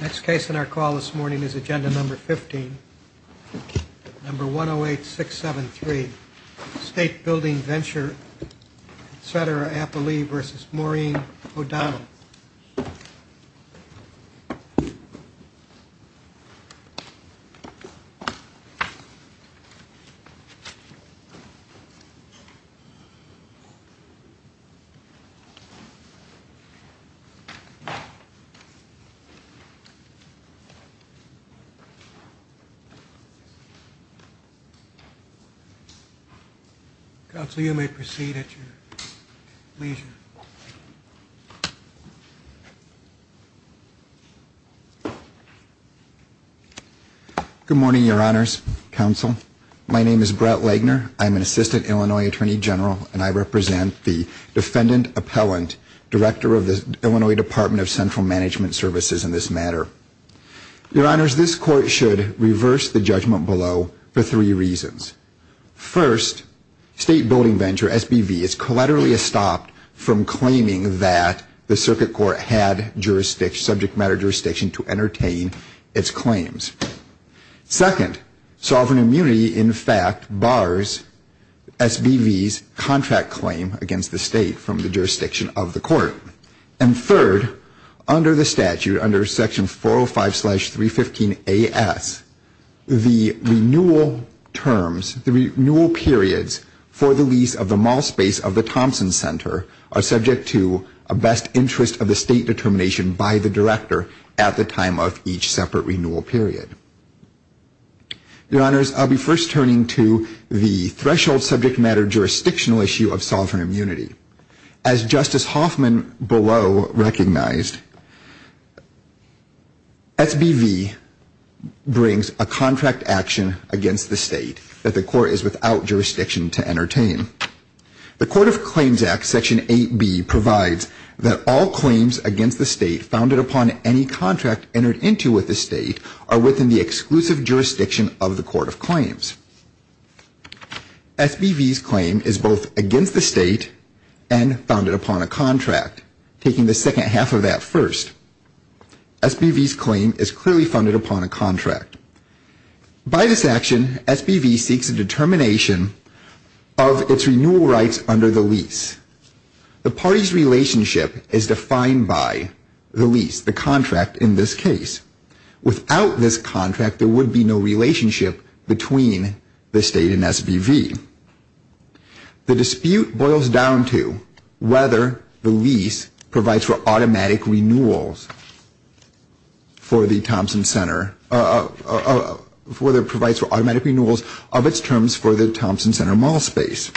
Next case in our call this morning is agenda number 15, number 108-673, State Building Venture, Cedera-Appley v. Maureen O'Donnell. Counsel, you may proceed at your leisure. Good morning, Your Honors, Counsel. My name is Brett Lagner. I'm an Assistant Illinois Attorney General, and I represent the Defendant Appellant, Director of the Illinois Department of Central Management Services in this matter. Your Honors, this Court should reverse the judgment below for three reasons. First, State Building Venture, SBV, is collaterally estopped from claiming that the Circuit Court had jurisdiction, subject matter jurisdiction to entertain its claims. Second, sovereign immunity, in fact, bars SBV's contract claim against the State from the jurisdiction of the Court. And third, under the statute, under Section 405-315-AS, the renewal terms, the renewal periods, for the lease of the mall space of the Thompson Center are subject to a best interest of the State determination by the Director at the time of each separate renewal period. Your Honors, I'll be first turning to the threshold subject matter jurisdictional issue of sovereign immunity. As Justice Hoffman below recognized, SBV brings a contract action against the State that the Court is without jurisdiction to entertain. The Court of Claims Act, Section 8B, provides that all claims against the State founded upon any contract entered into with the State are within the exclusive jurisdiction of the Court of Claims. SBV's claim is both against the State and founded upon a contract, taking the second half of that first. SBV's claim is clearly funded upon a contract. By this action, SBV seeks a determination of its renewal rights under the lease. The party's relationship is defined by the lease, the contract in this case. Without this contract, there would be no relationship between the State and SBV. The dispute boils down to whether the lease provides for automatic renewals for the Thompson Center, whether it provides for automatic renewals of its terms for the Thompson Center mall space.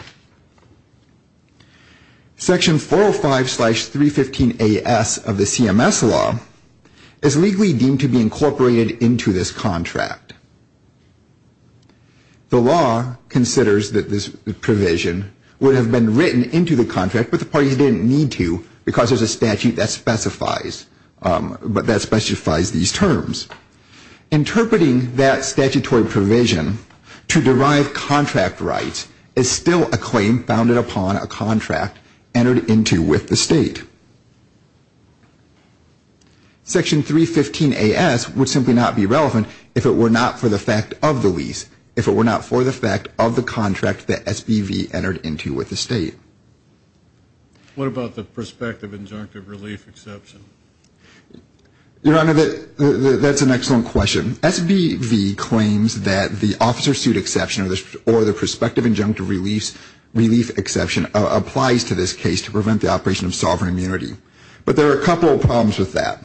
Section 405-315AS of the CMS law is legally deemed to be incorporated into this contract. The law considers that this provision would have been written into the contract, but the parties didn't need to because there's a statute that specifies these terms. Interpreting that statutory provision to derive contract rights is still a claim founded upon a contract entered into with the State. Section 315AS would simply not be relevant if it were not for the fact of the lease, if it were not for the fact of the contract that SBV entered into with the State. What about the prospective injunctive relief exception? Your Honor, that's an excellent question. SBV claims that the officer suit exception or the prospective injunctive relief exception applies to this case to prevent the operation of sovereign immunity, but there are a couple of problems with that.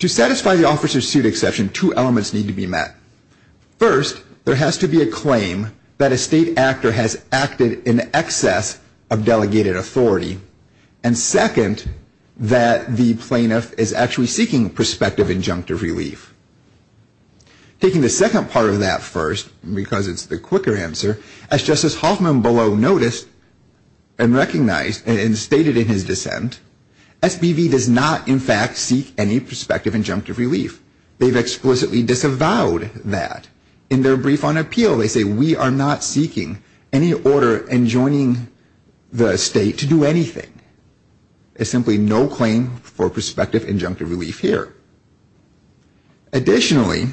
To satisfy the officer suit exception, two elements need to be met. First, there has to be a claim that a State actor has acted in excess of delegated authority, and second, that the plaintiff is actually seeking prospective injunctive relief. Taking the second part of that first, because it's the quicker answer, as Justice Hoffman below noticed and recognized and stated in his dissent, SBV does not, in fact, seek any prospective injunctive relief. They've explicitly disavowed that. In their brief on appeal, they say we are not seeking any order enjoining the State to do anything. There's simply no claim for prospective injunctive relief here. Additionally,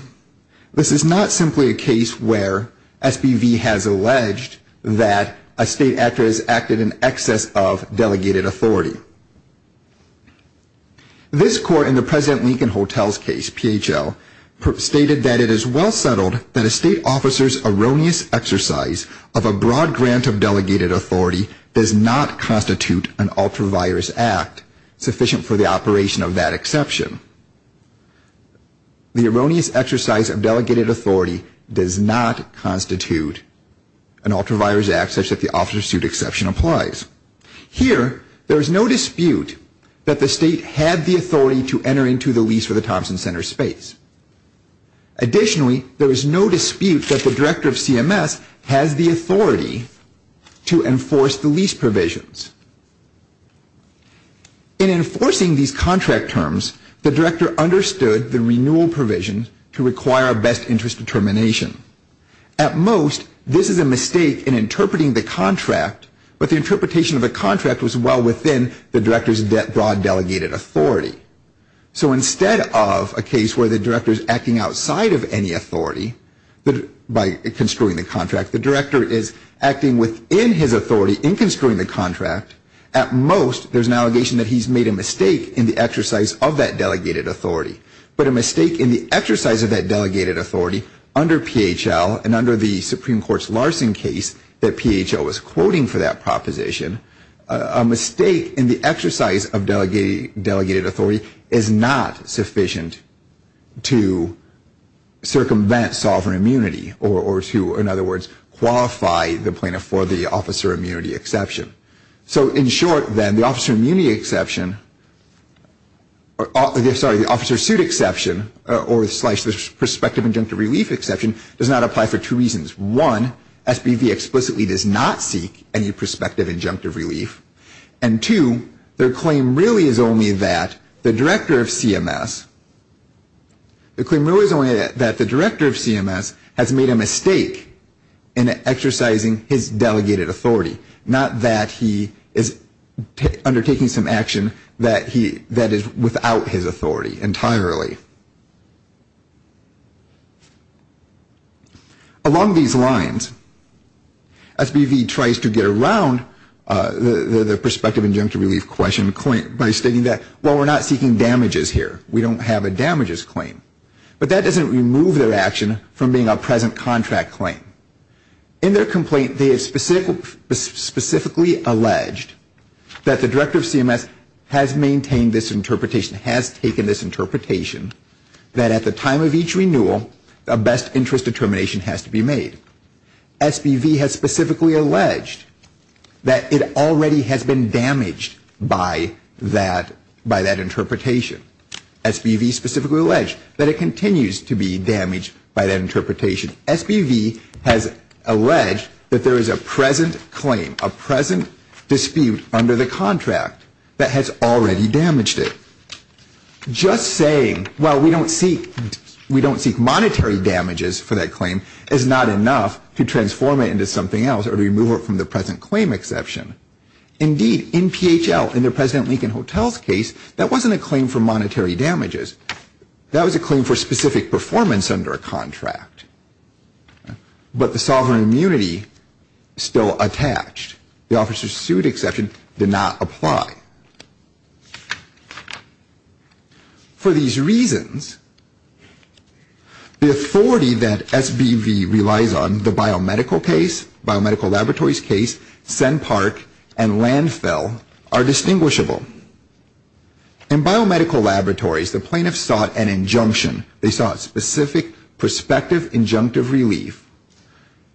this is not simply a case where SBV has alleged that a State actor has acted in excess of delegated authority. This Court in the President Lincoln Hotel's case, PHL, stated that it is well settled that a State officer's erroneous exercise of a broad grant of delegated authority does not constitute an ultra-virus act sufficient for the operation of that exception. The erroneous exercise of delegated authority does not constitute an ultra-virus act such that the officer suit exception applies. Here, there is no dispute that the State had the authority to enter into the lease for the Thompson Center space. Additionally, there is no dispute that the director of CMS has the authority to enforce the lease provisions. In enforcing these contract terms, the director understood the renewal provision to require a best interest determination. At most, this is a mistake in interpreting the contract, but the interpretation of the contract was well within the director's broad delegated authority. So instead of a case where the director is acting outside of any authority by construing the contract, the director is acting within his authority in construing the contract. At most, there is an allegation that he has made a mistake in the exercise of that delegated authority. But a mistake in the exercise of that delegated authority under PHL and under the Supreme Court's Larson case that PHL was quoting for that proposition, a mistake in the exercise of delegated authority is not sufficient to circumvent sovereign immunity, or to, in other words, qualify the plaintiff for the officer immunity exception. So in short, then, the officer suit exception or the prospective injunctive relief exception does not apply for two reasons. One, SBV explicitly does not seek any prospective injunctive relief. And two, their claim really is only that the director of CMS has made a mistake in exercising his delegated authority, not that he is undertaking some action that is without his authority entirely. Along these lines, SBV tries to get around the prospective injunctive relief question by stating that, well, we're not seeking damages here. We don't have a damages claim. But that doesn't remove their action from being a present contract claim. In their complaint, they have specifically alleged that the director of CMS has maintained this interpretation, has taken this interpretation, that at the time of each renewal, a best interest determination has to be made. SBV has specifically alleged that it already has been damaged by that interpretation. SBV specifically alleged that it continues to be damaged by that interpretation. SBV has alleged that there is a present claim, a present dispute under the contract that has already damaged it. Just saying, well, we don't seek monetary damages for that claim is not enough to transform it into something else or to remove it from the present claim exception. Indeed, in PHL, in the President Lincoln Hotel's case, that wasn't a claim for monetary damages. That was a claim for specific performance under a contract. But the sovereign immunity is still attached. The officer's suit exception did not apply. For these reasons, the authority that SBV relies on, the biomedical case, biomedical laboratories case, Senn Park, and landfill, are distinguishable. In biomedical laboratories, the plaintiffs sought an injunction. They sought specific prospective injunctive relief,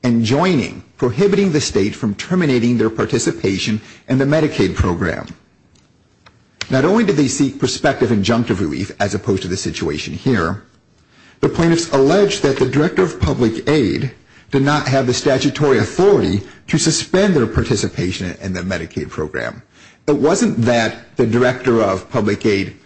and joining, prohibiting the state from terminating their participation in the Medicaid program. Not only did they seek prospective injunctive relief, as opposed to the situation here, the plaintiffs alleged that the director of public aid did not have the statutory authority to suspend their participation in the Medicaid program. It wasn't that the director of public aid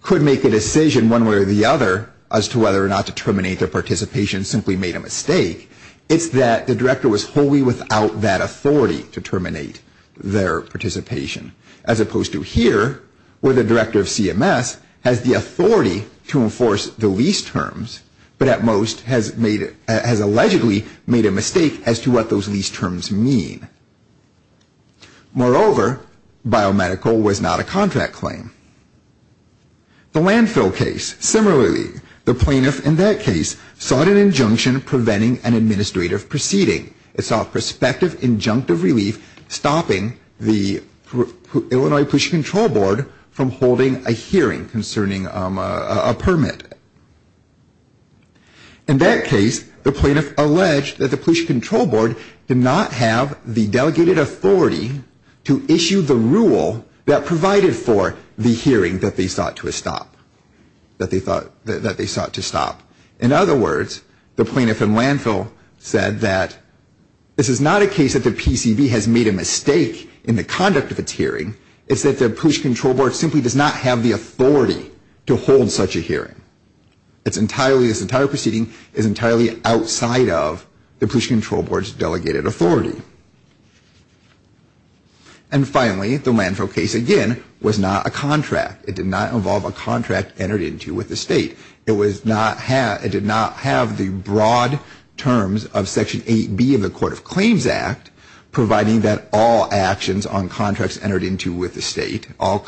could make a decision one way or the other as to whether or not to terminate their participation and simply made a mistake. It's that the director was wholly without that authority to terminate their participation. As opposed to here, where the director of CMS has the authority to enforce the lease terms, but at most has allegedly made a mistake as to what those lease terms mean. Moreover, biomedical was not a contract claim. The landfill case, similarly, the plaintiff in that case sought an injunction preventing an administrative proceeding. It sought prospective injunctive relief, stopping the Illinois Police Control Board from holding a hearing concerning a permit. In that case, the plaintiff alleged that the Police Control Board did not have the delegated authority to issue the rule that provided for the hearing that they sought to stop. In other words, the plaintiff in landfill said that this is not a case that the PCV has made a mistake in the conduct of its hearing. It's that the Police Control Board simply does not have the authority to hold such a hearing. This entire proceeding is entirely outside of the Police Control Board's delegated authority. And finally, the landfill case, again, was not a contract. It did not involve a contract entered into with the state. It did not have the broad terms of Section 8B of the Court of Claims Act, providing that all actions on contracts entered into with the state, the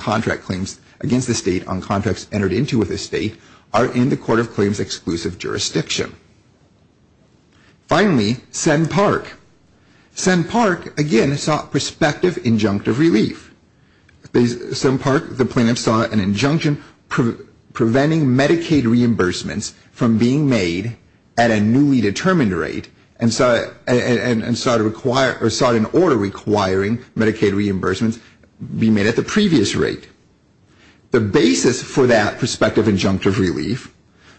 plaintiff sought an injunction preventing Medicaid reimbursements from being made at a newly determined rate and sought an order requiring Medicaid reimbursements be made at the previous rate. The basis for that prospective injunctive relief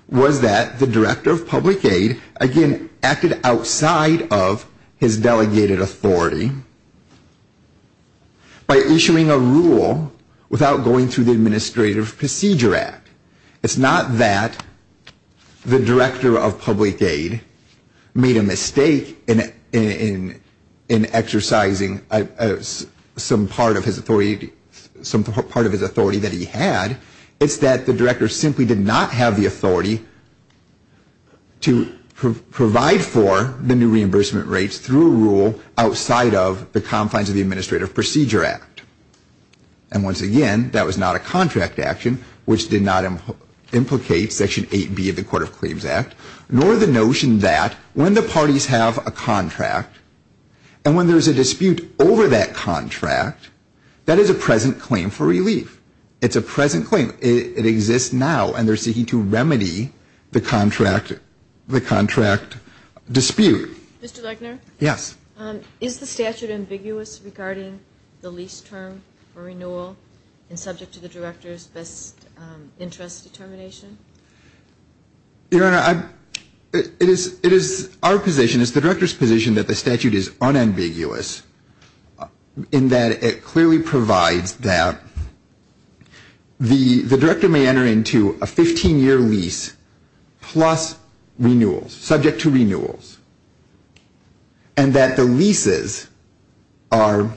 was that the director of public aid, again, acted outside of his delegated authority. By issuing a rule without going through the Administrative Procedure Act. It's not that the director of public aid made a mistake in exercising some part of his authority that he had. It's that the director simply did not have the authority to provide for the new reimbursement rates through a rule outside of the confines of the Administrative Procedure Act. And once again, that was not a contract action, which did not implicate Section 8B of the Court of Claims Act, nor the notion that when the parties have a contract, and when there's a dispute over that contract, that is a present claim for relief. It's a present claim. It exists now, and they're seeking to remedy the contract dispute. MS. LEGNER. MR. LEGNER. Yes. MS. LEGNER. Is the statute ambiguous regarding the lease term for renewal and subject to the director's best interest determination? MR. LEGNER. Your Honor, it is our position, it's the director's position, that the statute is unambiguous in that it clearly provides that the lease term is that the director may enter into a 15-year lease plus renewals, subject to renewals, and that the leases are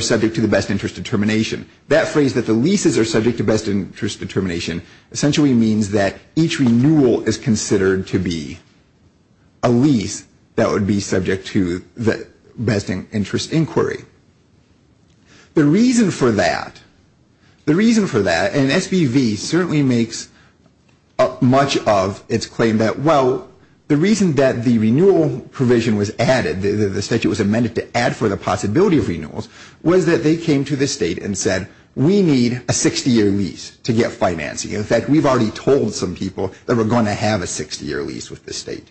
subject to the best interest determination. That phrase, that the leases are subject to best interest determination, essentially means that each renewal is considered to be a lease that would be subject to the best interest inquiry. The reason for that, the reason for that, and SBV certainly makes up much of its claim that, well, the reason that the renewal provision was added, the statute was amended to add for the possibility of renewals, was that they came to the State and said, we need a 60-year lease to get financing. In fact, we've already told some people that we're going to have a 60-year lease with the State.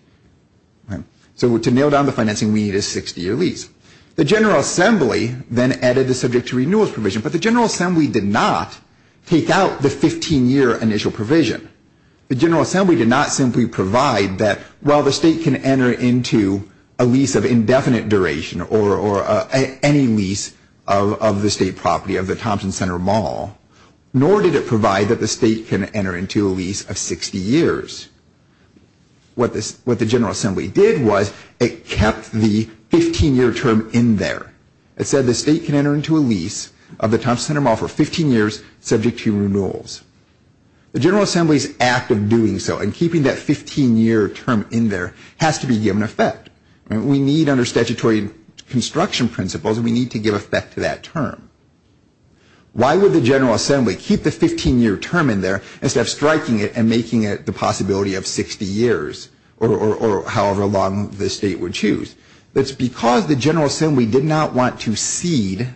So to nail down the financing, we need a 60-year lease. The General Assembly then added the subject to renewals provision, but the General Assembly did not take out the 15-year initial provision. The General Assembly did not simply provide that, well, the State can enter into a lease of indefinite duration or any lease of the State property, of the Thompson Center Mall, nor did it provide that the State can enter into a lease of 60 years. What the General Assembly did was it kept the 15-year term in there. It said the State can enter into a lease of the Thompson Center Mall for 15 years subject to renewals. The General Assembly's act of doing so and keeping that 15-year term in there has to be given effect. We need under statutory construction principles, we need to give effect to that term. Why would the General Assembly keep the 15-year term in there instead of striking it and making it the possibility of 60 years, or however long the State would choose? It's because the General Assembly did not want to cede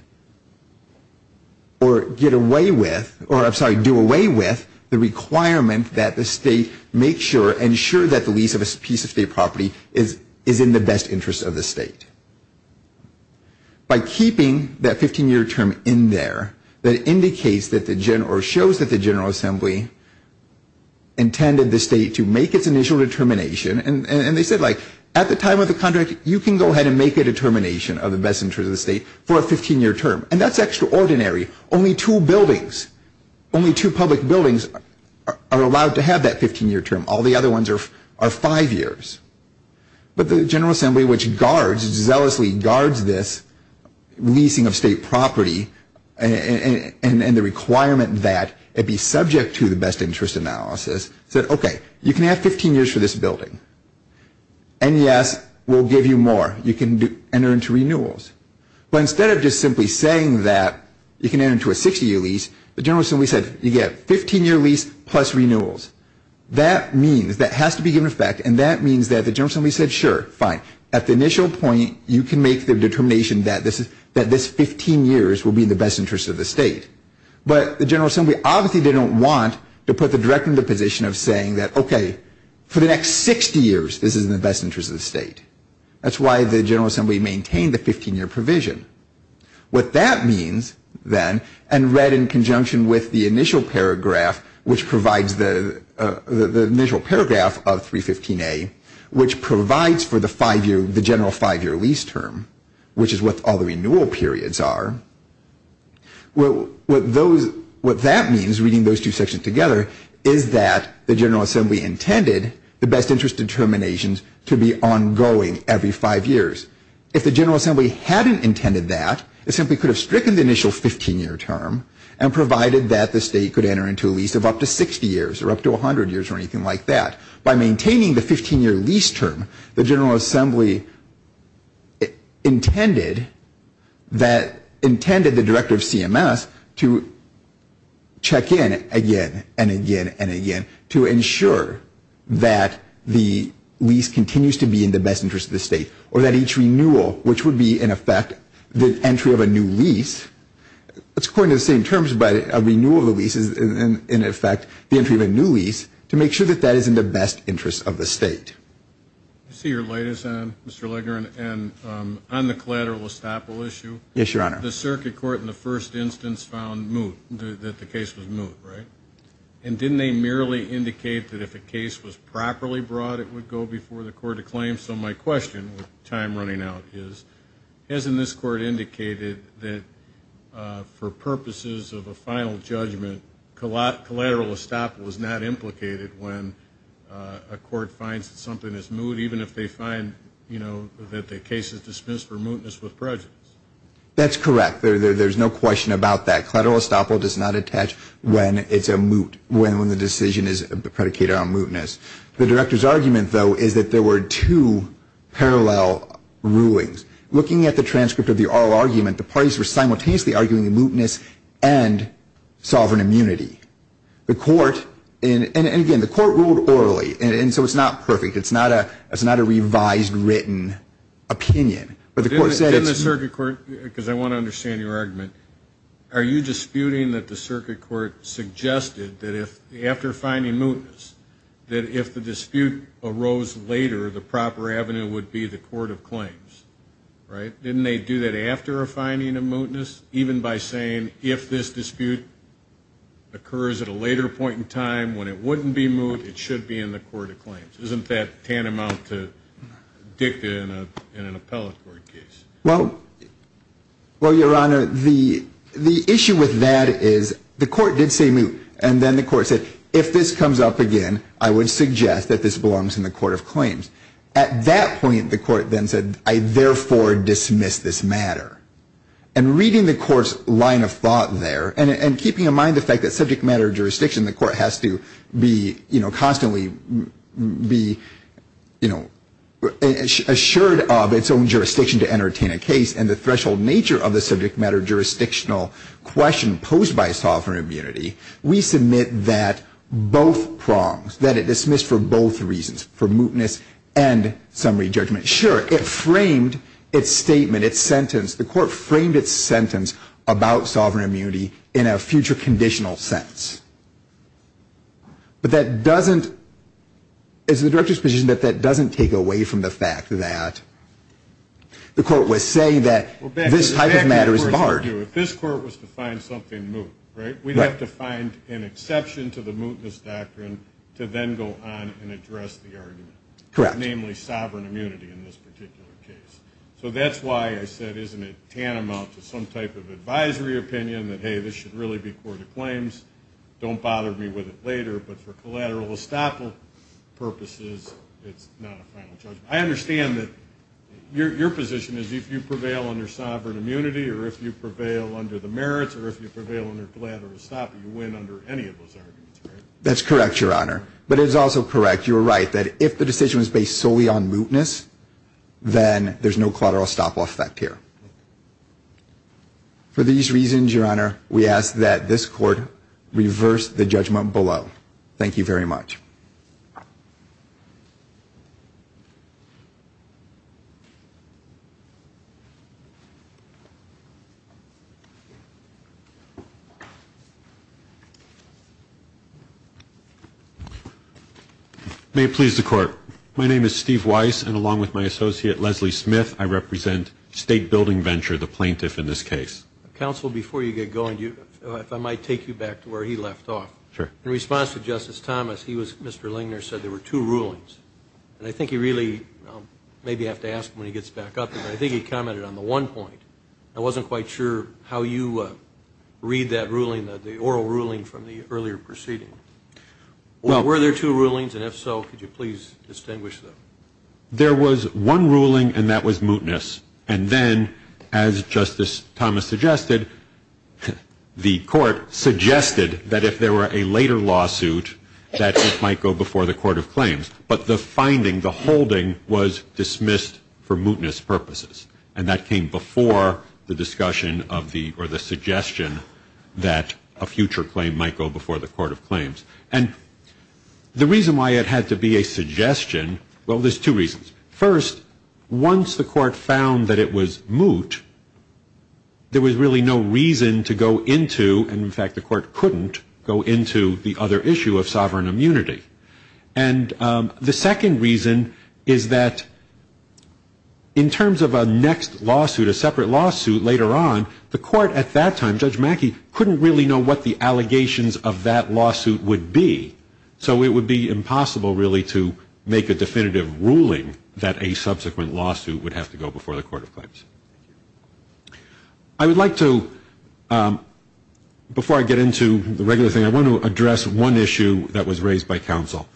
or get away with, or I'm sorry, do away with the requirement that the State make sure, ensure that the lease of a piece of State property is in the best interest of the State. By keeping that 15-year term in there, that indicates or shows that the General Assembly intended the State to make its initial determination, and they said at the time of the contract you can go ahead and make a determination of the best interest of the State for a 15-year term. And that's extraordinary. Only two buildings, only two public buildings are allowed to have that 15-year term. All the other ones are five years. But the General Assembly, which guards, zealously guards this leasing of State property and the requirement that it be subject to the best interest analysis, said okay, you can have 15 years for this building. And yes, we'll give you more. You can enter into renewals. But instead of just simply saying that you can enter into a 60-year lease, the General Assembly said you get 15-year lease plus renewals. That means, that has to be given effect, and that means that the General Assembly said sure, fine. At the initial point you can make the determination that this 15 years will be in the best interest of the State. But the General Assembly obviously didn't want to put the Director in the position of saying that okay, for the next 60 years this is in the best interest of the State. That's why the General Assembly maintained the 15-year provision. What that means then, and read in conjunction with the initial paragraph of 315A, which provides for the general five-year lease term, which is what all the renewal periods are, what that means, reading those two sections together, is that the General Assembly intended the best interest determinations to be ongoing every five years. If the General Assembly hadn't intended that, it simply could have stricken the initial 15-year term, and provided that the State could enter into a lease of up to 60 years, or up to 100 years, or anything like that. By maintaining the 15-year lease term, the General Assembly intended the Director of CMS to check in again, and again, and again, to ensure that the lease continues to be in the best interest of the State, or that each renewal, which would be, in effect, the entry of a new lease, it's coined in the same terms, but a renewal of the lease is, in effect, the entry of a new lease, to make sure that that is in the best interest of the State. I see your light is on, Mr. Legner, and on the collateral estoppel issue. Yes, Your Honor. The Circuit Court, in the first instance, found moot, that the case was moot, right? And didn't they merely indicate that if a case was properly brought, it would go before the Court of Claims? So my question, with time running out, is, hasn't this Court indicated that for purposes of a final judgment, collateral estoppel is not implicated when a Court finds that something is moot, even if they find, you know, that the case is dismissed for mootness with prejudice? That's correct. There's no question about that. Collateral estoppel does not attach when it's a moot, when the decision is predicated on mootness. The Director's argument, though, is that there were two parallel rulings. Looking at the transcript of the oral argument, the parties were simultaneously arguing mootness and sovereign immunity. The Court, and again, the Court ruled orally, and so it's not perfect. It's not a revised, written opinion. Didn't the Circuit Court, because I want to understand your argument, are you disputing that the Circuit Court suggested that after finding mootness, that if the dispute arose later, the proper avenue would be the Court of Claims, right? Didn't they do that after finding a mootness, even by saying, if this dispute occurs at a later point in time when it wouldn't be moot, it should be in the Court of Claims? Isn't that tantamount to dicta in an appellate court case? Well, Your Honor, the issue with that is the Court did say moot, and then the Court said, if this comes up again, I would suggest that this belongs in the Court of Claims. At that point, the Court then said, I therefore dismiss this matter. And reading the Court's line of thought there, and keeping in mind the fact that subject matter jurisdiction, the Court has to be, you know, constantly be, you know, assured of its own jurisdiction to entertain a case, and the threshold nature of the subject matter jurisdictional question posed by sovereign immunity, we submit that both prongs, that it dismissed for both reasons, for mootness and summary judgment. Sure, it framed its statement, its sentence. The Court framed its sentence about sovereign immunity in a future conditional sense. But that doesn't, it's the Director's position that that doesn't take away from the fact that the Court was saying that this type of matter is barred. Well, back to the question, too. If this Court was to find something moot, right, we'd have to find an exception to the mootness doctrine to then go on and address the argument. Correct. Namely, sovereign immunity in this particular case. So that's why I said, isn't it tantamount to some type of advisory opinion that, hey, this should really be Court of Claims, don't bother me with it later, but for collateral estoppel purposes, it's not a final judgment. I understand that your position is if you prevail under sovereign immunity or if you prevail under the merits or if you prevail under collateral estoppel, you win under any of those arguments, right? That's correct, Your Honor. But it's also correct, you were right, that if the decision was based solely on mootness, then there's no collateral estoppel effect here. For these reasons, Your Honor, we ask that this Court reverse the judgment below. Thank you very much. May it please the Court. My name is Steve Weiss, and along with my associate, Leslie Smith, I represent State Building Venture, the plaintiff in this case. Counsel, before you get going, if I might take you back to where he left off. Sure. In response to Justice Thomas, he was, Mr. Lingner said there were two rulings. And I think he really, maybe I'll have to ask him when he gets back up, but I think he commented on the one point. I wasn't quite sure how you read that ruling, the oral ruling from the earlier proceeding. Were there two rulings? And if so, could you please distinguish them? There was one ruling, and that was mootness. And then, as Justice Thomas suggested, the Court suggested that if there were a later lawsuit, that it might go before the Court of Claims. But the finding, the holding, was dismissed for mootness purposes. And that came before the discussion or the suggestion that a future claim might go before the Court of Claims. And the reason why it had to be a suggestion, well, there's two reasons. First, once the Court found that it was moot, there was really no reason to go into, and in fact the Court couldn't go into, the other issue of sovereign immunity. And the second reason is that in terms of a next lawsuit, a separate lawsuit later on, the Court at that time, Judge Mackey, couldn't really know what the allegations of that lawsuit would be. So it would be impossible really to make a definitive ruling that a subsequent lawsuit would have to go before the Court of Claims. I would like to, before I get into the regular thing, I want to address one issue that was raised by counsel.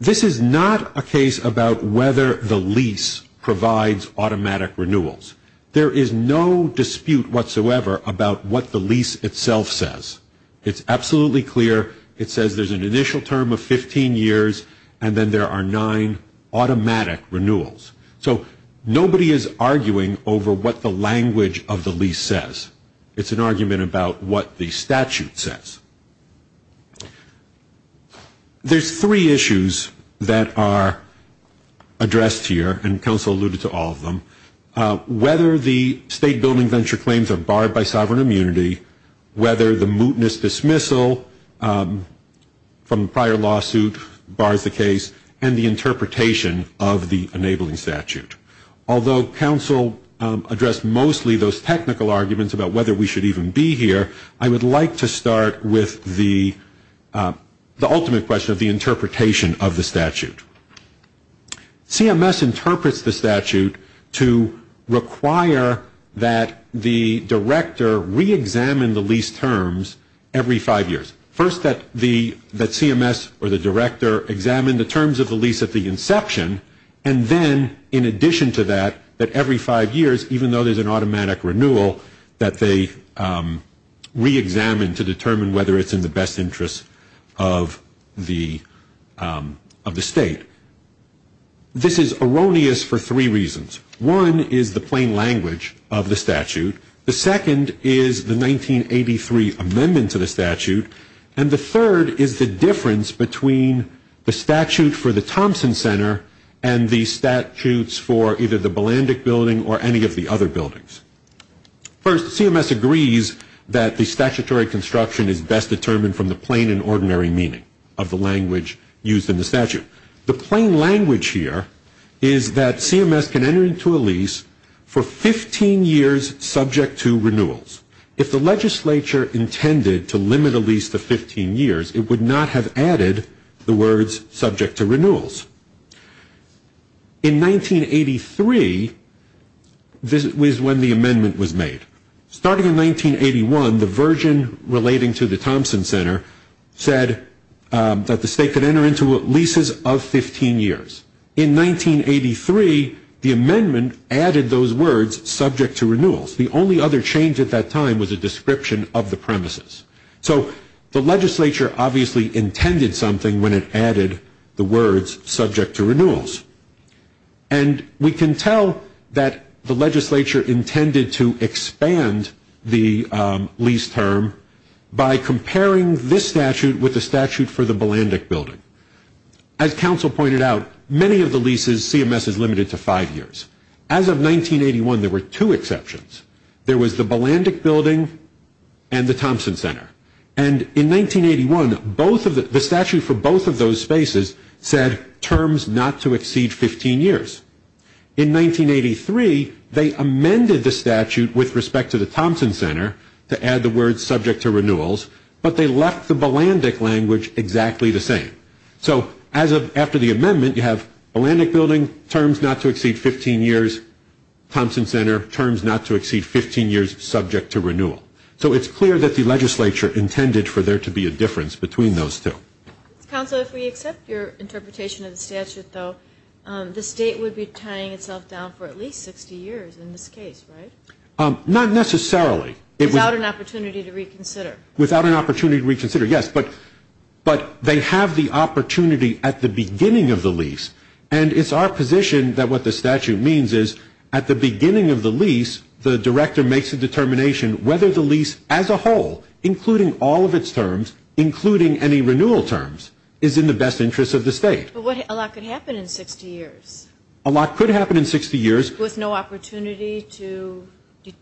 This is not a case about whether the lease provides automatic renewals. There is no dispute whatsoever about what the lease itself says. It's absolutely clear. It says there's an initial term of 15 years, and then there are nine automatic renewals. So nobody is arguing over what the language of the lease says. It's an argument about what the statute says. There's three issues that are addressed here, and counsel alluded to all of them. Whether the state building venture claims are barred by sovereign immunity, whether the mootness dismissal from the prior lawsuit bars the case, and the interpretation of the enabling statute. Although counsel addressed mostly those technical arguments about whether we should even be here, I would like to start with the ultimate question of the interpretation of the statute. CMS interprets the statute to require that the director reexamine the lease terms every five years. First, that CMS or the director examine the terms of the lease at the inception, and then in addition to that, that every five years, even though there's an automatic renewal, that they reexamine to determine whether it's in the best interest of the state. This is erroneous for three reasons. One is the plain language of the statute. The second is the 1983 amendment to the statute, and the third is the difference between the statute for the Thompson Center and the statutes for either the Balandic Building or any of the other buildings. First, CMS agrees that the statutory construction is best determined from the plain and ordinary meaning of the language used in the statute. The plain language here is that CMS can enter into a lease for 15 years subject to renewals. If the legislature intended to limit a lease to 15 years, it would not have added the words subject to renewals. In 1983, this was when the amendment was made. Starting in 1981, the version relating to the Thompson Center said that the state could enter into leases of 15 years. In 1983, the amendment added those words subject to renewals. The only other change at that time was a description of the premises. So the legislature obviously intended something when it added the words subject to renewals. And we can tell that the legislature intended to expand the lease term by comparing this statute with the statute for the Balandic Building. As counsel pointed out, many of the leases, CMS is limited to five years. As of 1981, there were two exceptions. There was the Balandic Building and the Thompson Center. And in 1981, the statute for both of those spaces said terms not to exceed 15 years. In 1983, they amended the statute with respect to the Thompson Center to add the words subject to renewals, but they left the Balandic language exactly the same. So after the amendment, you have Balandic Building, terms not to exceed 15 years, Thompson Center, terms not to exceed 15 years, subject to renewal. So it's clear that the legislature intended for there to be a difference between those two. Counsel, if we accept your interpretation of the statute, though, the state would be tying itself down for at least 60 years in this case, right? Not necessarily. Without an opportunity to reconsider. Without an opportunity to reconsider, yes. But they have the opportunity at the beginning of the lease. And it's our position that what the statute means is at the beginning of the lease, the director makes a determination whether the lease as a whole, including all of its terms, including any renewal terms, is in the best interest of the state. But a lot could happen in 60 years. A lot could happen in 60 years. With no opportunity to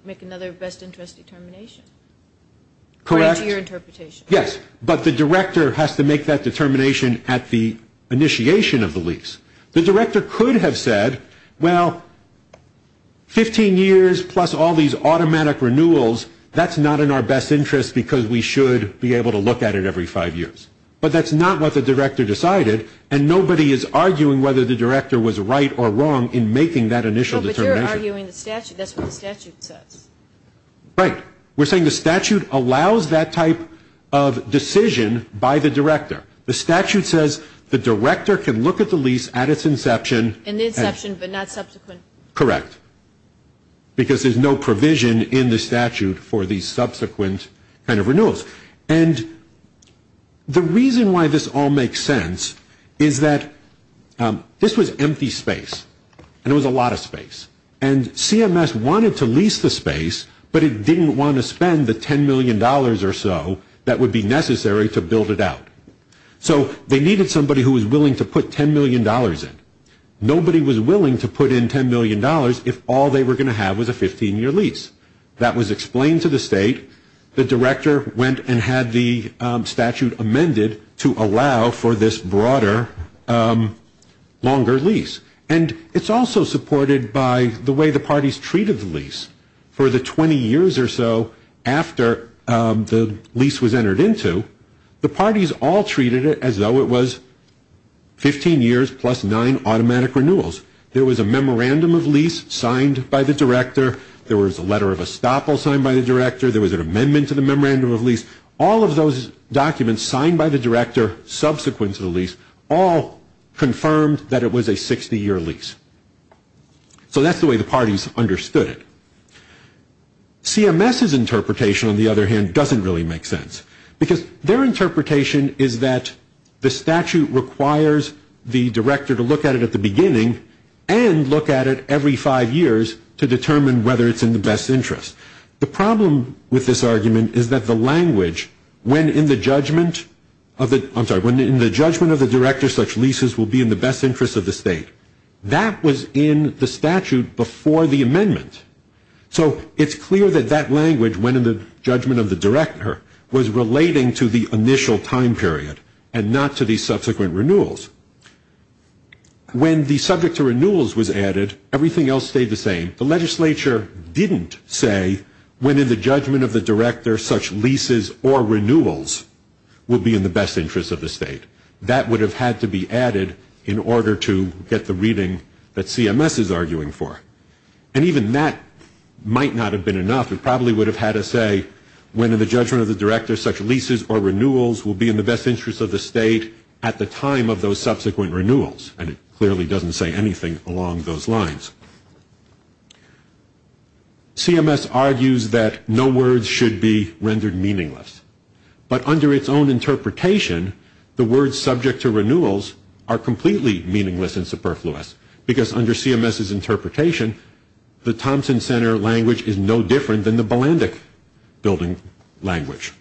make another best interest determination. Correct. According to your interpretation. Yes. But the director has to make that determination at the initiation of the lease. The director could have said, well, 15 years plus all these automatic renewals, that's not in our best interest because we should be able to look at it every five years. But that's not what the director decided, and nobody is arguing whether the director was right or wrong in making that initial determination. No, but you're arguing the statute. That's what the statute says. Right. We're saying the statute allows that type of decision by the director. The statute says the director can look at the lease at its inception. And the inception, but not subsequent. Correct. Because there's no provision in the statute for the subsequent kind of renewals. And the reason why this all makes sense is that this was empty space, and it was a lot of space. And CMS wanted to lease the space, but it didn't want to spend the $10 million or so that would be necessary to build it out. So they needed somebody who was willing to put $10 million in. Nobody was willing to put in $10 million if all they were going to have was a 15-year lease. That was explained to the state. The director went and had the statute amended to allow for this broader, longer lease. And it's also supported by the way the parties treated the lease. For the 20 years or so after the lease was entered into, the parties all treated it as though it was 15 years plus nine automatic renewals. There was a memorandum of lease signed by the director. There was a letter of estoppel signed by the director. All of those documents signed by the director subsequent to the lease all confirmed that it was a 60-year lease. So that's the way the parties understood it. CMS's interpretation, on the other hand, doesn't really make sense. Because their interpretation is that the statute requires the director to look at it at the beginning and look at it every five years to determine whether it's in the best interest. The problem with this argument is that the language, when in the judgment of the director such leases will be in the best interest of the state, that was in the statute before the amendment. So it's clear that that language, when in the judgment of the director, was relating to the initial time period and not to the subsequent renewals. When the subject to renewals was added, everything else stayed the same. The legislature didn't say when in the judgment of the director such leases or renewals will be in the best interest of the state. That would have had to be added in order to get the reading that CMS is arguing for. And even that might not have been enough. It probably would have had to say when in the judgment of the director such leases or renewals will be in the best interest of the state at the time of those subsequent renewals. And it clearly doesn't say anything along those lines. CMS argues that no words should be rendered meaningless. But under its own interpretation, the words subject to renewals are completely meaningless and superfluous. Because under CMS's interpretation, the Thompson Center language is no different than the Balandic building language.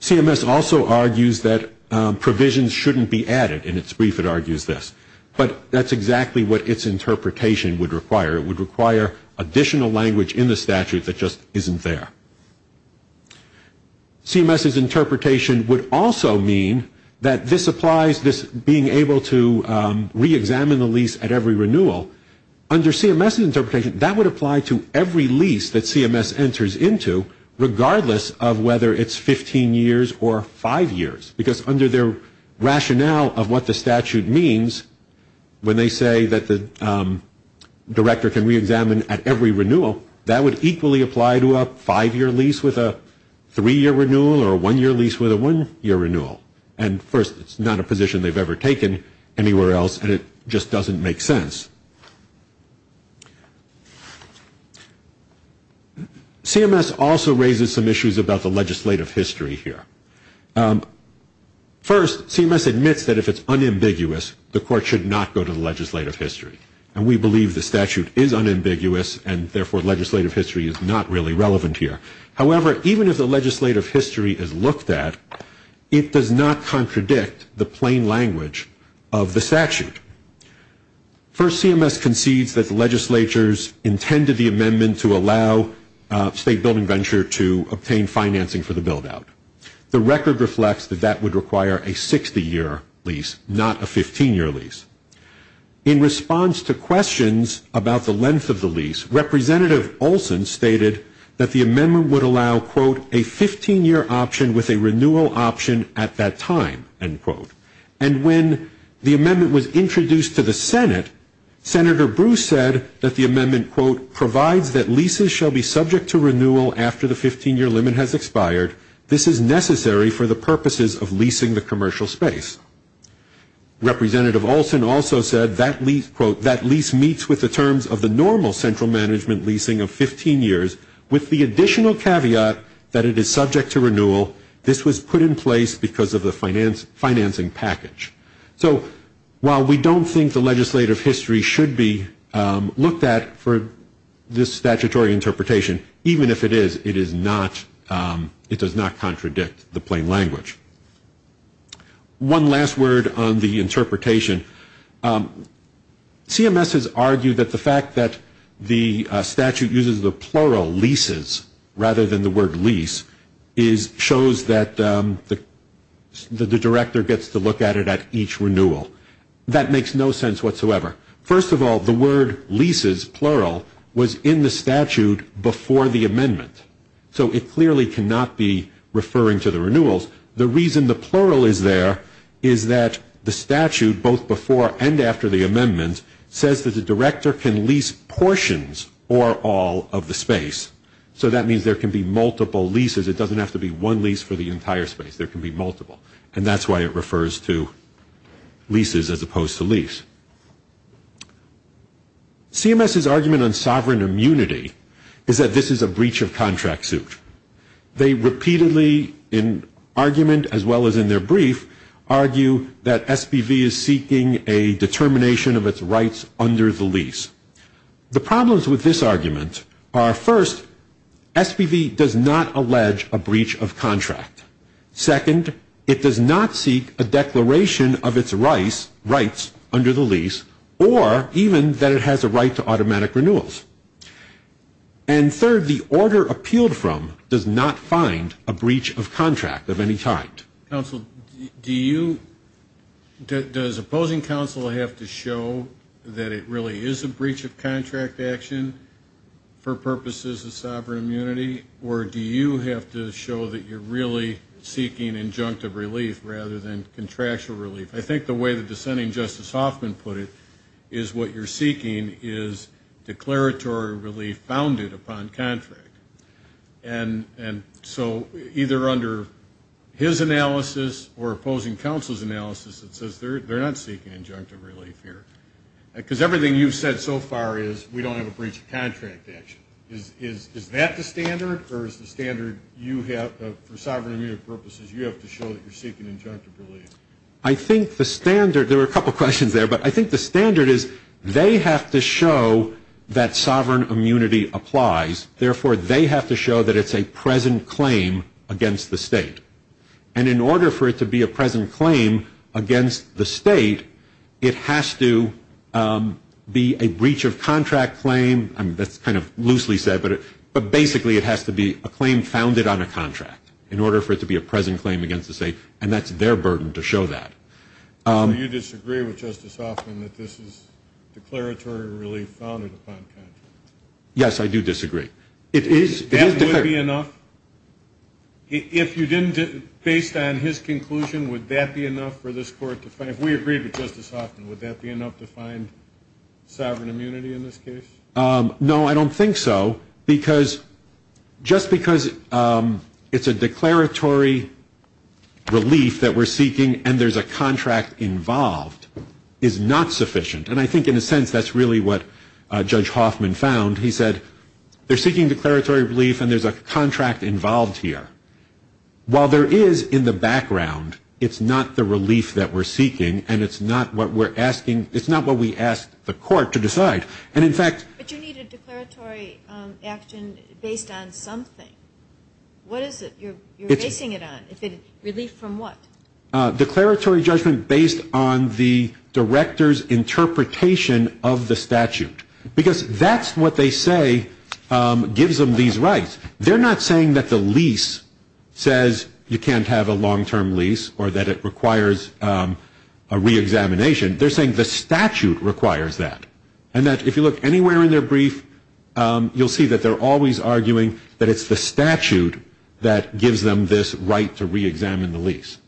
CMS also argues that provisions shouldn't be added. In its brief, it argues this. But that's exactly what its interpretation would require. It would require additional language in the statute that just isn't there. CMS's interpretation would also mean that this applies, this being able to reexamine the lease at every renewal. Under CMS's interpretation, that would apply to every lease that CMS enters into, regardless of whether it's 15 years or 5 years. Because under their rationale of what the statute means, when they say that the director can reexamine at every renewal, that would equally apply to a 5-year lease with a 3-year renewal or a 1-year lease with a 1-year renewal. And first, it's not a position they've ever taken anywhere else, and it just doesn't make sense. CMS also raises some issues about the legislative history here. First, CMS admits that if it's unambiguous, the court should not go to the legislative history. And we believe the statute is unambiguous, and therefore legislative history is not really relevant here. However, even if the legislative history is looked at, it does not contradict the plain language of the statute. First, CMS concedes that the legislatures intended the amendment to allow State Building Venture to obtain financing for the build-out. The record reflects that that would require a 60-year lease, not a 15-year lease. In response to questions about the length of the lease, at that time, end quote. And when the amendment was introduced to the Senate, Senator Bruce said that the amendment, quote, provides that leases shall be subject to renewal after the 15-year limit has expired. This is necessary for the purposes of leasing the commercial space. Representative Olson also said, quote, that lease meets with the terms of the normal central management leasing of 15 years, with the additional caveat that it is subject to renewal. This was put in place because of the financing package. So while we don't think the legislative history should be looked at for this statutory interpretation, even if it is, it does not contradict the plain language. One last word on the interpretation. CMS has argued that the fact that the statute uses the plural, leases, rather than the word lease, shows that the director gets to look at it at each renewal. That makes no sense whatsoever. First of all, the word leases, plural, was in the statute before the amendment. So it clearly cannot be referring to the renewals. The reason the plural is there is that the statute, both before and after the amendment, says that the director can lease portions or all of the space. So that means there can be multiple leases. It doesn't have to be one lease for the entire space. There can be multiple. And that's why it refers to leases as opposed to lease. CMS's argument on sovereign immunity is that this is a breach of contract suit. They repeatedly, in argument as well as in their brief, argue that SPV is seeking a determination of its rights under the lease. The problems with this argument are, first, SPV does not allege a breach of contract. Second, it does not seek a declaration of its rights under the lease, or even that it has a right to automatic renewals. And third, the order appealed from does not find a breach of contract of any kind. Counsel, do you ñ does opposing counsel have to show that it really is a breach of contract action for purposes of sovereign immunity, or do you have to show that you're really seeking injunctive relief rather than contractual relief? I think the way the dissenting Justice Hoffman put it is what you're seeking is declaratory relief founded upon contract. And so either under his analysis or opposing counsel's analysis, it says they're not seeking injunctive relief here. Because everything you've said so far is we don't have a breach of contract action. Is that the standard, or is the standard you have for sovereign immunity purposes, you have to show that you're seeking injunctive relief? I think the standard ñ there were a couple questions there, but I think the standard is they have to show that sovereign immunity applies. Therefore, they have to show that it's a present claim against the state. And in order for it to be a present claim against the state, it has to be a breach of contract claim. That's kind of loosely said, but basically it has to be a claim founded on a contract in order for it to be a present claim against the state. And that's their burden to show that. So you disagree with Justice Hoffman that this is declaratory relief founded upon contract? Yes, I do disagree. That would be enough? If you didn't ñ based on his conclusion, would that be enough for this Court to find ñ if we agreed with Justice Hoffman, would that be enough to find sovereign immunity in this case? No, I don't think so, because ñ just because it's a declaratory relief that we're seeking and there's a contract involved is not sufficient. And I think in a sense that's really what Judge Hoffman found. He said they're seeking declaratory relief and there's a contract involved here. While there is in the background, it's not the relief that we're seeking and it's not what we're asking ñ it's not what we asked the Court to decide. And in fact ñ But you need a declaratory action based on something. What is it you're basing it on? Relief from what? Declaratory judgment based on the director's interpretation of the statute. Because that's what they say gives them these rights. They're not saying that the lease says you can't have a long-term lease or that it requires a reexamination. They're saying the statute requires that. And that if you look anywhere in their brief, you'll see that they're always arguing that it's the statute that gives them this right to reexamine the lease.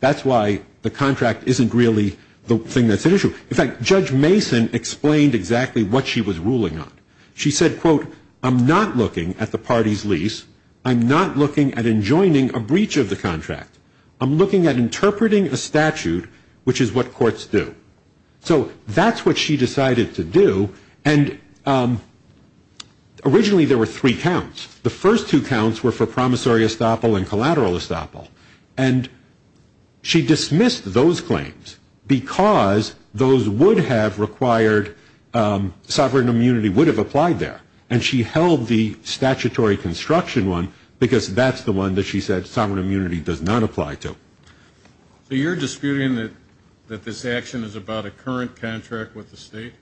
That's why the contract isn't really the thing that's at issue. In fact, Judge Mason explained exactly what she was ruling on. She said, quote, I'm not looking at the party's lease. I'm not looking at enjoining a breach of the contract. I'm looking at interpreting a statute, which is what courts do. So that's what she decided to do. And originally there were three counts. The first two counts were for promissory estoppel and collateral estoppel. And she dismissed those claims because those would have required ñ sovereign immunity would have applied there. And she held the statutory construction one because that's the one that she said So you're disputing that this action is about a current contract with the state?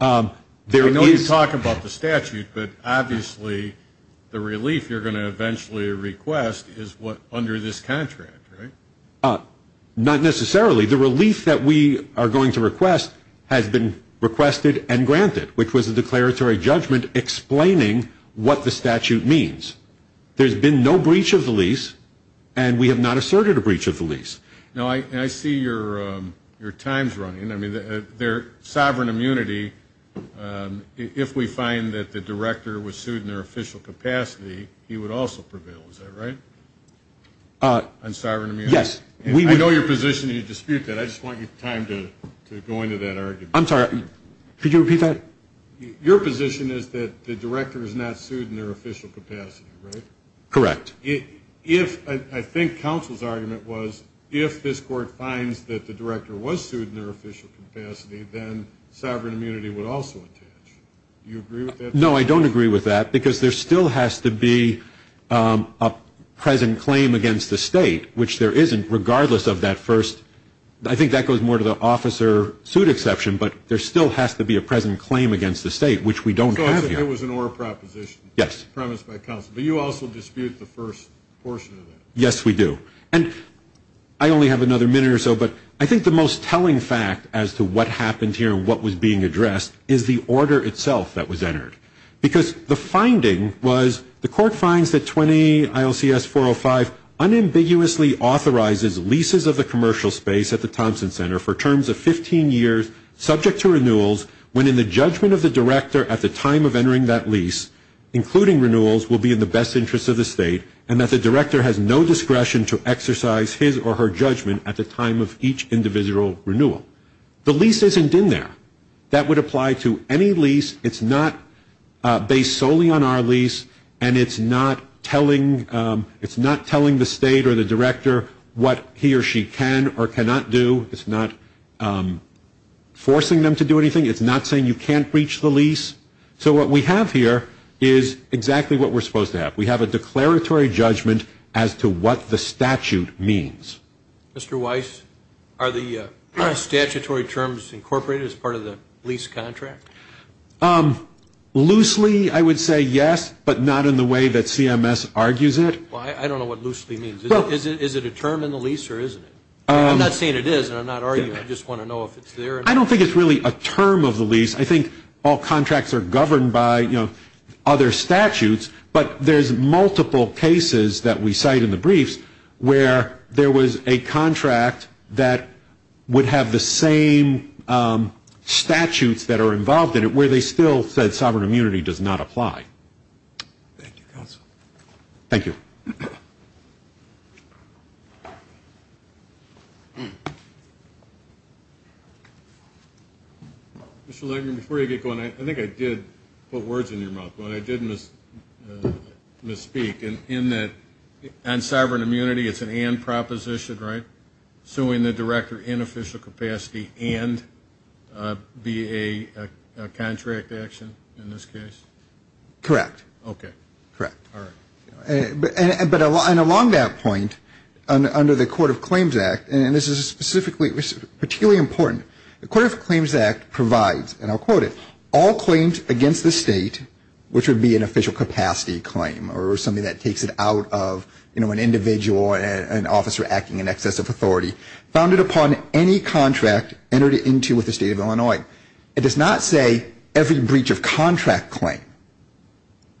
I know you talk about the statute, but obviously the relief you're going to eventually request is under this contract, right? Not necessarily. The relief that we are going to request has been requested and granted, which was a declaratory judgment explaining what the statute means. There's been no breach of the lease, and we have not asserted a breach of the lease. Now, I see your time's running. I mean, their sovereign immunity, if we find that the director was sued in their official capacity, he would also prevail, is that right, on sovereign immunity? Yes. I know your position, and you dispute that. I just want your time to go into that argument. I'm sorry. Could you repeat that? Your position is that the director is not sued in their official capacity, right? Correct. I think counsel's argument was if this court finds that the director was sued in their official capacity, then sovereign immunity would also attach. Do you agree with that? No, I don't agree with that because there still has to be a present claim against the state, which there isn't regardless of that first. I think that goes more to the officer suit exception, but there still has to be a present claim against the state, which we don't have here. So it was an oral proposition. Yes. Premised by counsel. But you also dispute the first portion of that. Yes, we do. And I only have another minute or so, but I think the most telling fact as to what happened here and what was being addressed is the order itself that was entered. Because the finding was the court finds that 20 ILCS 405 unambiguously authorizes leases of the commercial space at the Thompson Center for terms of 15 years subject to renewals when in the judgment of the director at the time of entering that lease, including renewals, will be in the best interest of the state, and that the director has no discretion to exercise his or her judgment at the time of each individual renewal. The lease isn't in there. That would apply to any lease. It's not based solely on our lease, and it's not telling the state or the director what he or she can or cannot do. It's not forcing them to do anything. It's not saying you can't breach the lease. So what we have here is exactly what we're supposed to have. We have a declaratory judgment as to what the statute means. Mr. Weiss, are the statutory terms incorporated as part of the lease contract? Loosely, I would say yes, but not in the way that CMS argues it. I don't know what loosely means. Is it a term in the lease or isn't it? I'm not saying it is, and I'm not arguing it. I just want to know if it's there. I don't think it's really a term of the lease. I think all contracts are governed by other statutes, but there's multiple cases that we cite in the briefs where there was a contract that would have the same statutes that are involved in it where they still said sovereign immunity does not apply. Thank you, counsel. Thank you. Mr. Langer, before you get going, I think I did put words in your mouth. I did misspeak in that on sovereign immunity it's an and proposition, right, suing the director in official capacity and be a contract action in this case? Correct. Okay. Correct. All right. But along that point, under the Court of Claims Act, and this is particularly important, the Court of Claims Act provides, and I'll quote it, all claims against the state, which would be an official capacity claim or something that takes it out of an individual, an officer acting in excess of authority, founded upon any contract entered into with the state of Illinois. It does not say every breach of contract claim.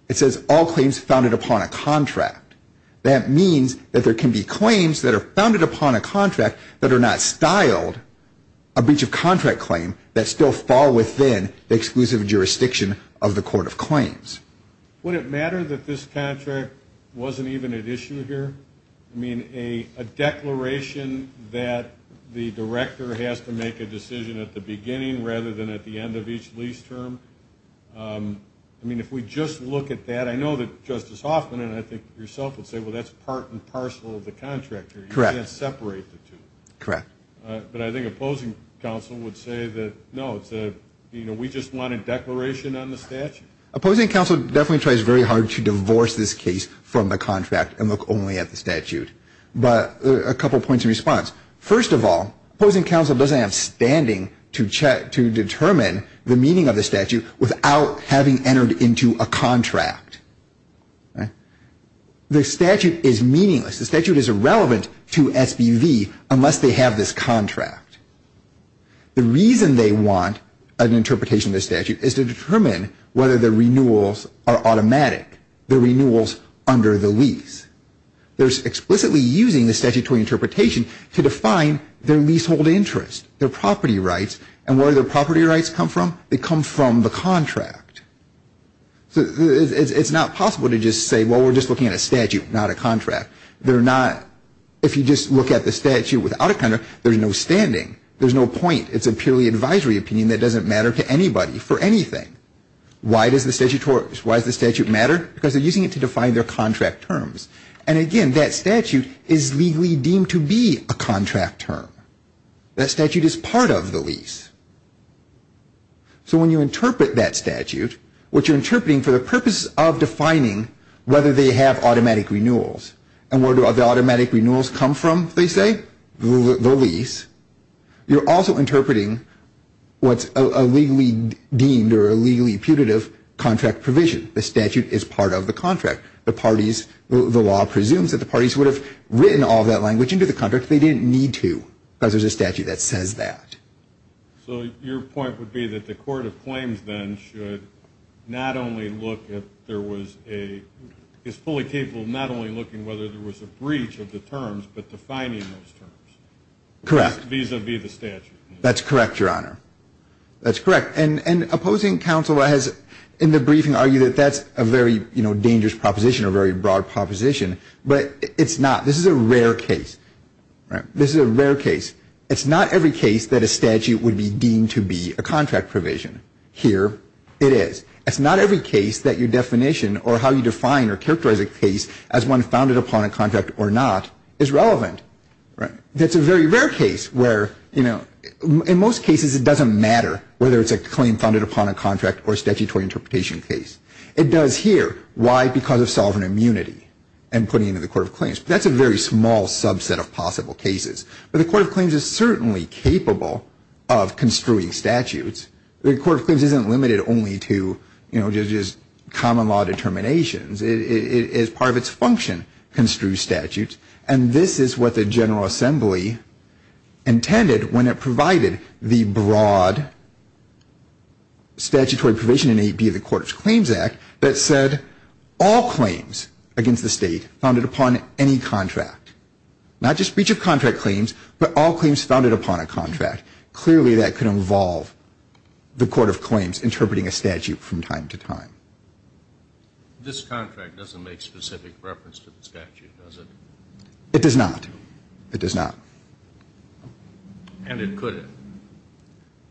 It says all claims founded upon a contract. That means that there can be claims that are founded upon a contract that are not styled, a breach of contract claim that still fall within the exclusive jurisdiction of the Court of Claims. Would it matter that this contract wasn't even at issue here? I mean, a declaration that the director has to make a decision at the beginning rather than at the end of each lease term, I mean, if we just look at that, I know that Justice Hoffman and I think yourself would say, well, that's part and parcel of the contract here. Correct. You can't separate the two. Correct. But I think opposing counsel would say that, no, we just want a declaration on the statute. Opposing counsel definitely tries very hard to divorce this case from the contract and look only at the statute. But a couple points of response. First of all, opposing counsel doesn't have standing to determine the meaning of the statute without having entered into a contract. The statute is meaningless. The statute is irrelevant to SBV unless they have this contract. The reason they want an interpretation of the statute is to determine whether the renewals are automatic, the renewals under the lease. They're explicitly using the statutory interpretation to define their leasehold interest, their property rights, and where do their property rights come from? They come from the contract. So it's not possible to just say, well, we're just looking at a statute, not a contract. They're not. If you just look at the statute without a contract, there's no standing. There's no point. It's a purely advisory opinion that doesn't matter to anybody for anything. Why does the statute matter? Because they're using it to define their contract terms. And, again, that statute is legally deemed to be a contract term. That statute is part of the lease. So when you interpret that statute, what you're interpreting for the purpose of defining whether they have automatic renewals and where do the automatic renewals come from, they say, the lease, you're also interpreting what's a legally deemed or a legally putative contract provision. The statute is part of the contract. The parties, the law presumes that the parties would have written all that language into the contract. They didn't need to because there's a statute that says that. So your point would be that the court of claims, then, should not only look if there was a – is fully capable of not only looking whether there was a breach of the terms but defining those terms. Correct. Vis-a-vis the statute. That's correct, Your Honor. That's correct. And opposing counsel has, in the briefing, argued that that's a very dangerous proposition, a very broad proposition. But it's not. This is a rare case. This is a rare case. It's not every case that a statute would be deemed to be a contract provision. Here it is. It's not every case that your definition or how you define or characterize a case as one founded upon a contract or not is relevant. That's a very rare case where, you know, in most cases it doesn't matter whether it's a claim founded upon a contract or a statutory interpretation case. It does here. Why? Because of sovereign immunity and putting it in the court of claims. That's a very small subset of possible cases. But the court of claims is certainly capable of construing statutes. The court of claims isn't limited only to, you know, just common law determinations. It is part of its function to construe statutes. And this is what the General Assembly intended when it provided the broad statutory provision in AB of the Court of Claims Act that said all claims against the state founded upon any contract, not just breach of contract claims, but all claims founded upon a contract, clearly that could involve the court of claims interpreting a statute from time to time. This contract doesn't make specific reference to the statute, does it? It does not. It does not. And it could have.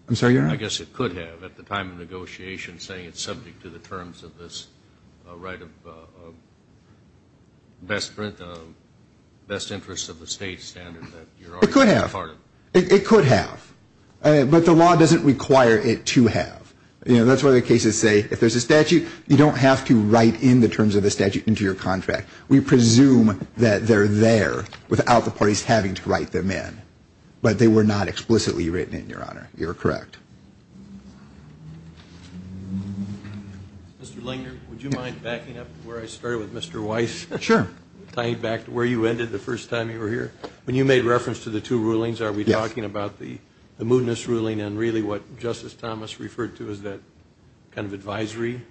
I'm sorry, Your Honor? I guess it could have at the time of negotiation saying it's subject to the terms of this right of best interest of the state standard. It could have. It could have. But the law doesn't require it to have. You know, that's why the cases say if there's a statute, you don't have to write in the terms of the statute into your contract. We presume that they're there without the parties having to write them in. But they were not explicitly written in, Your Honor. You're correct. Mr. Langer, would you mind backing up where I started with Mr. Weiss? Sure. Tying back to where you ended the first time you were here. When you made reference to the two rulings, are we talking about the mootness ruling and really what Justice Thomas referred to as that kind of advisory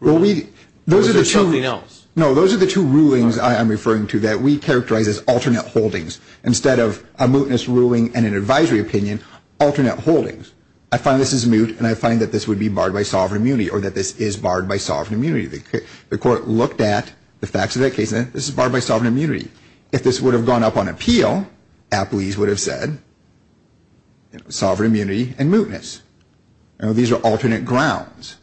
ruling? Or is there something else? No, those are the two rulings I'm referring to that we characterize as alternate holdings. Instead of a mootness ruling and an advisory opinion, alternate holdings. I find this is moot, and I find that this would be barred by sovereign immunity or that this is barred by sovereign immunity. The Court looked at the facts of that case, and this is barred by sovereign immunity. If this would have gone up on appeal, appellees would have said sovereign immunity and mootness. These are alternate grounds.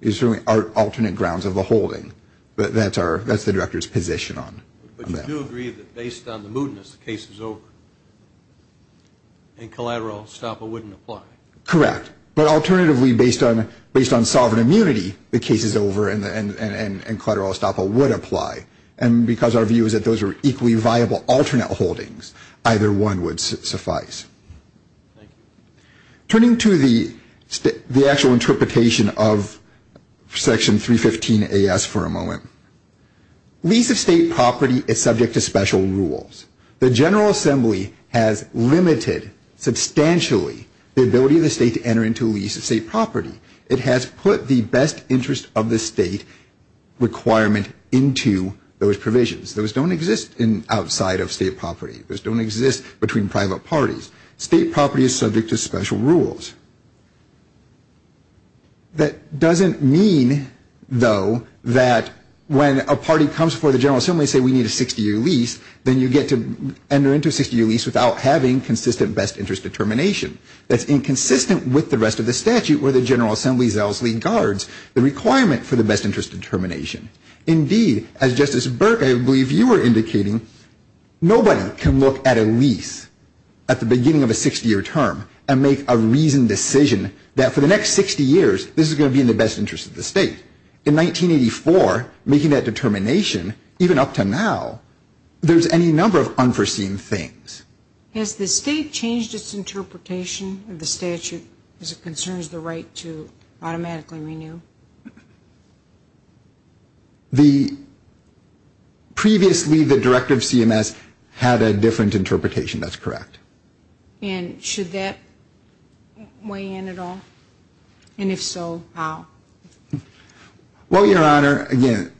These are alternate grounds of the holding. That's the Director's position on that. But you do agree that based on the mootness, the case is over, and collateral estoppel wouldn't apply. Correct. But alternatively, based on sovereign immunity, the case is over and collateral estoppel would apply. And because our view is that those are equally viable alternate holdings, either one would suffice. Thank you. Turning to the actual interpretation of Section 315 AS for a moment, lease of state property is subject to special rules. The General Assembly has limited substantially the ability of the state to enter into a lease of state property. It has put the best interest of the state requirement into those provisions. Those don't exist outside of state property. Those don't exist between private parties. State property is subject to special rules. That doesn't mean, though, that when a party comes before the General Assembly and says we need a 60-year lease, then you get to enter into a 60-year lease without having consistent best interest determination. That's inconsistent with the rest of the statute where the General Assembly zealously guards the requirement for the best interest determination. Indeed, as Justice Burke, I believe you were indicating, nobody can look at a lease at the beginning of a 60-year term and make a reasoned decision that for the next 60 years, this is going to be in the best interest of the state. In 1984, making that determination, even up to now, there's any number of unforeseen things. Has the state changed its interpretation of the statute as it concerns the right to automatically renew? Previously, the Director of CMS had a different interpretation. That's correct. And should that weigh in at all? And if so, how? Well, Your Honor, again,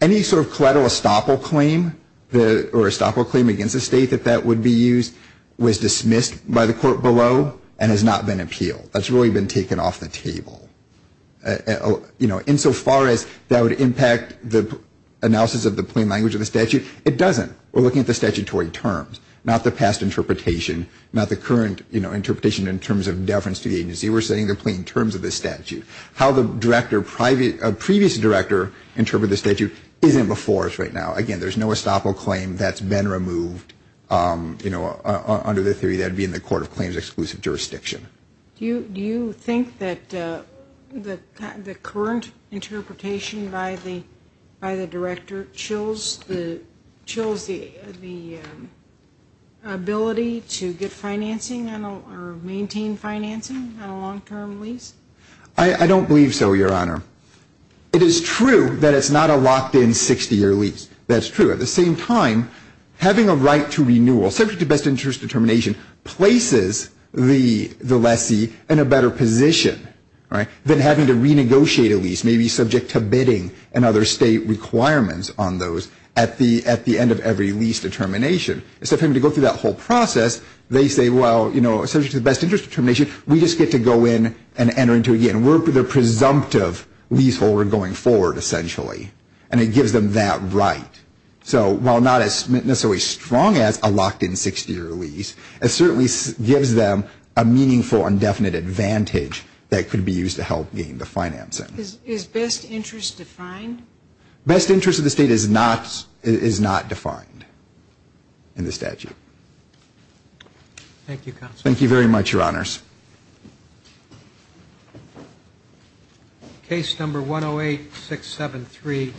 any sort of collateral estoppel claim or estoppel claim against the state that that would be used was dismissed by the court below and has not been appealed. That's really been taken off the table. Insofar as that would impact the analysis of the plain language of the statute, it doesn't. We're looking at the statutory terms, not the past interpretation, not the current interpretation in terms of deference to the agency. We're saying the plain terms of the statute. How the previous director interpreted the statute isn't before us right now. Again, there's no estoppel claim that's been removed under the theory that it would be in the Court of Claims Exclusive Jurisdiction. Do you think that the current interpretation by the director chills the ability to get financing or maintain financing on a long-term lease? I don't believe so, Your Honor. It is true that it's not a locked-in 60-year lease. That's true. At the same time, having a right to renewal, subject to best interest determination, places the lessee in a better position than having to renegotiate a lease, maybe subject to bidding and other state requirements on those at the end of every lease determination. Instead of having to go through that whole process, they say, well, subject to best interest determination, we just get to go in and enter into it again. We're the presumptive leaseholder going forward, essentially. And it gives them that right. So while not necessarily as strong as a locked-in 60-year lease, it certainly gives them a meaningful, indefinite advantage that could be used to help gain the financing. Is best interest defined? Best interest of the state is not defined in the statute. Thank you, Counsel. Thank you very much, Your Honors. Case number 108-673.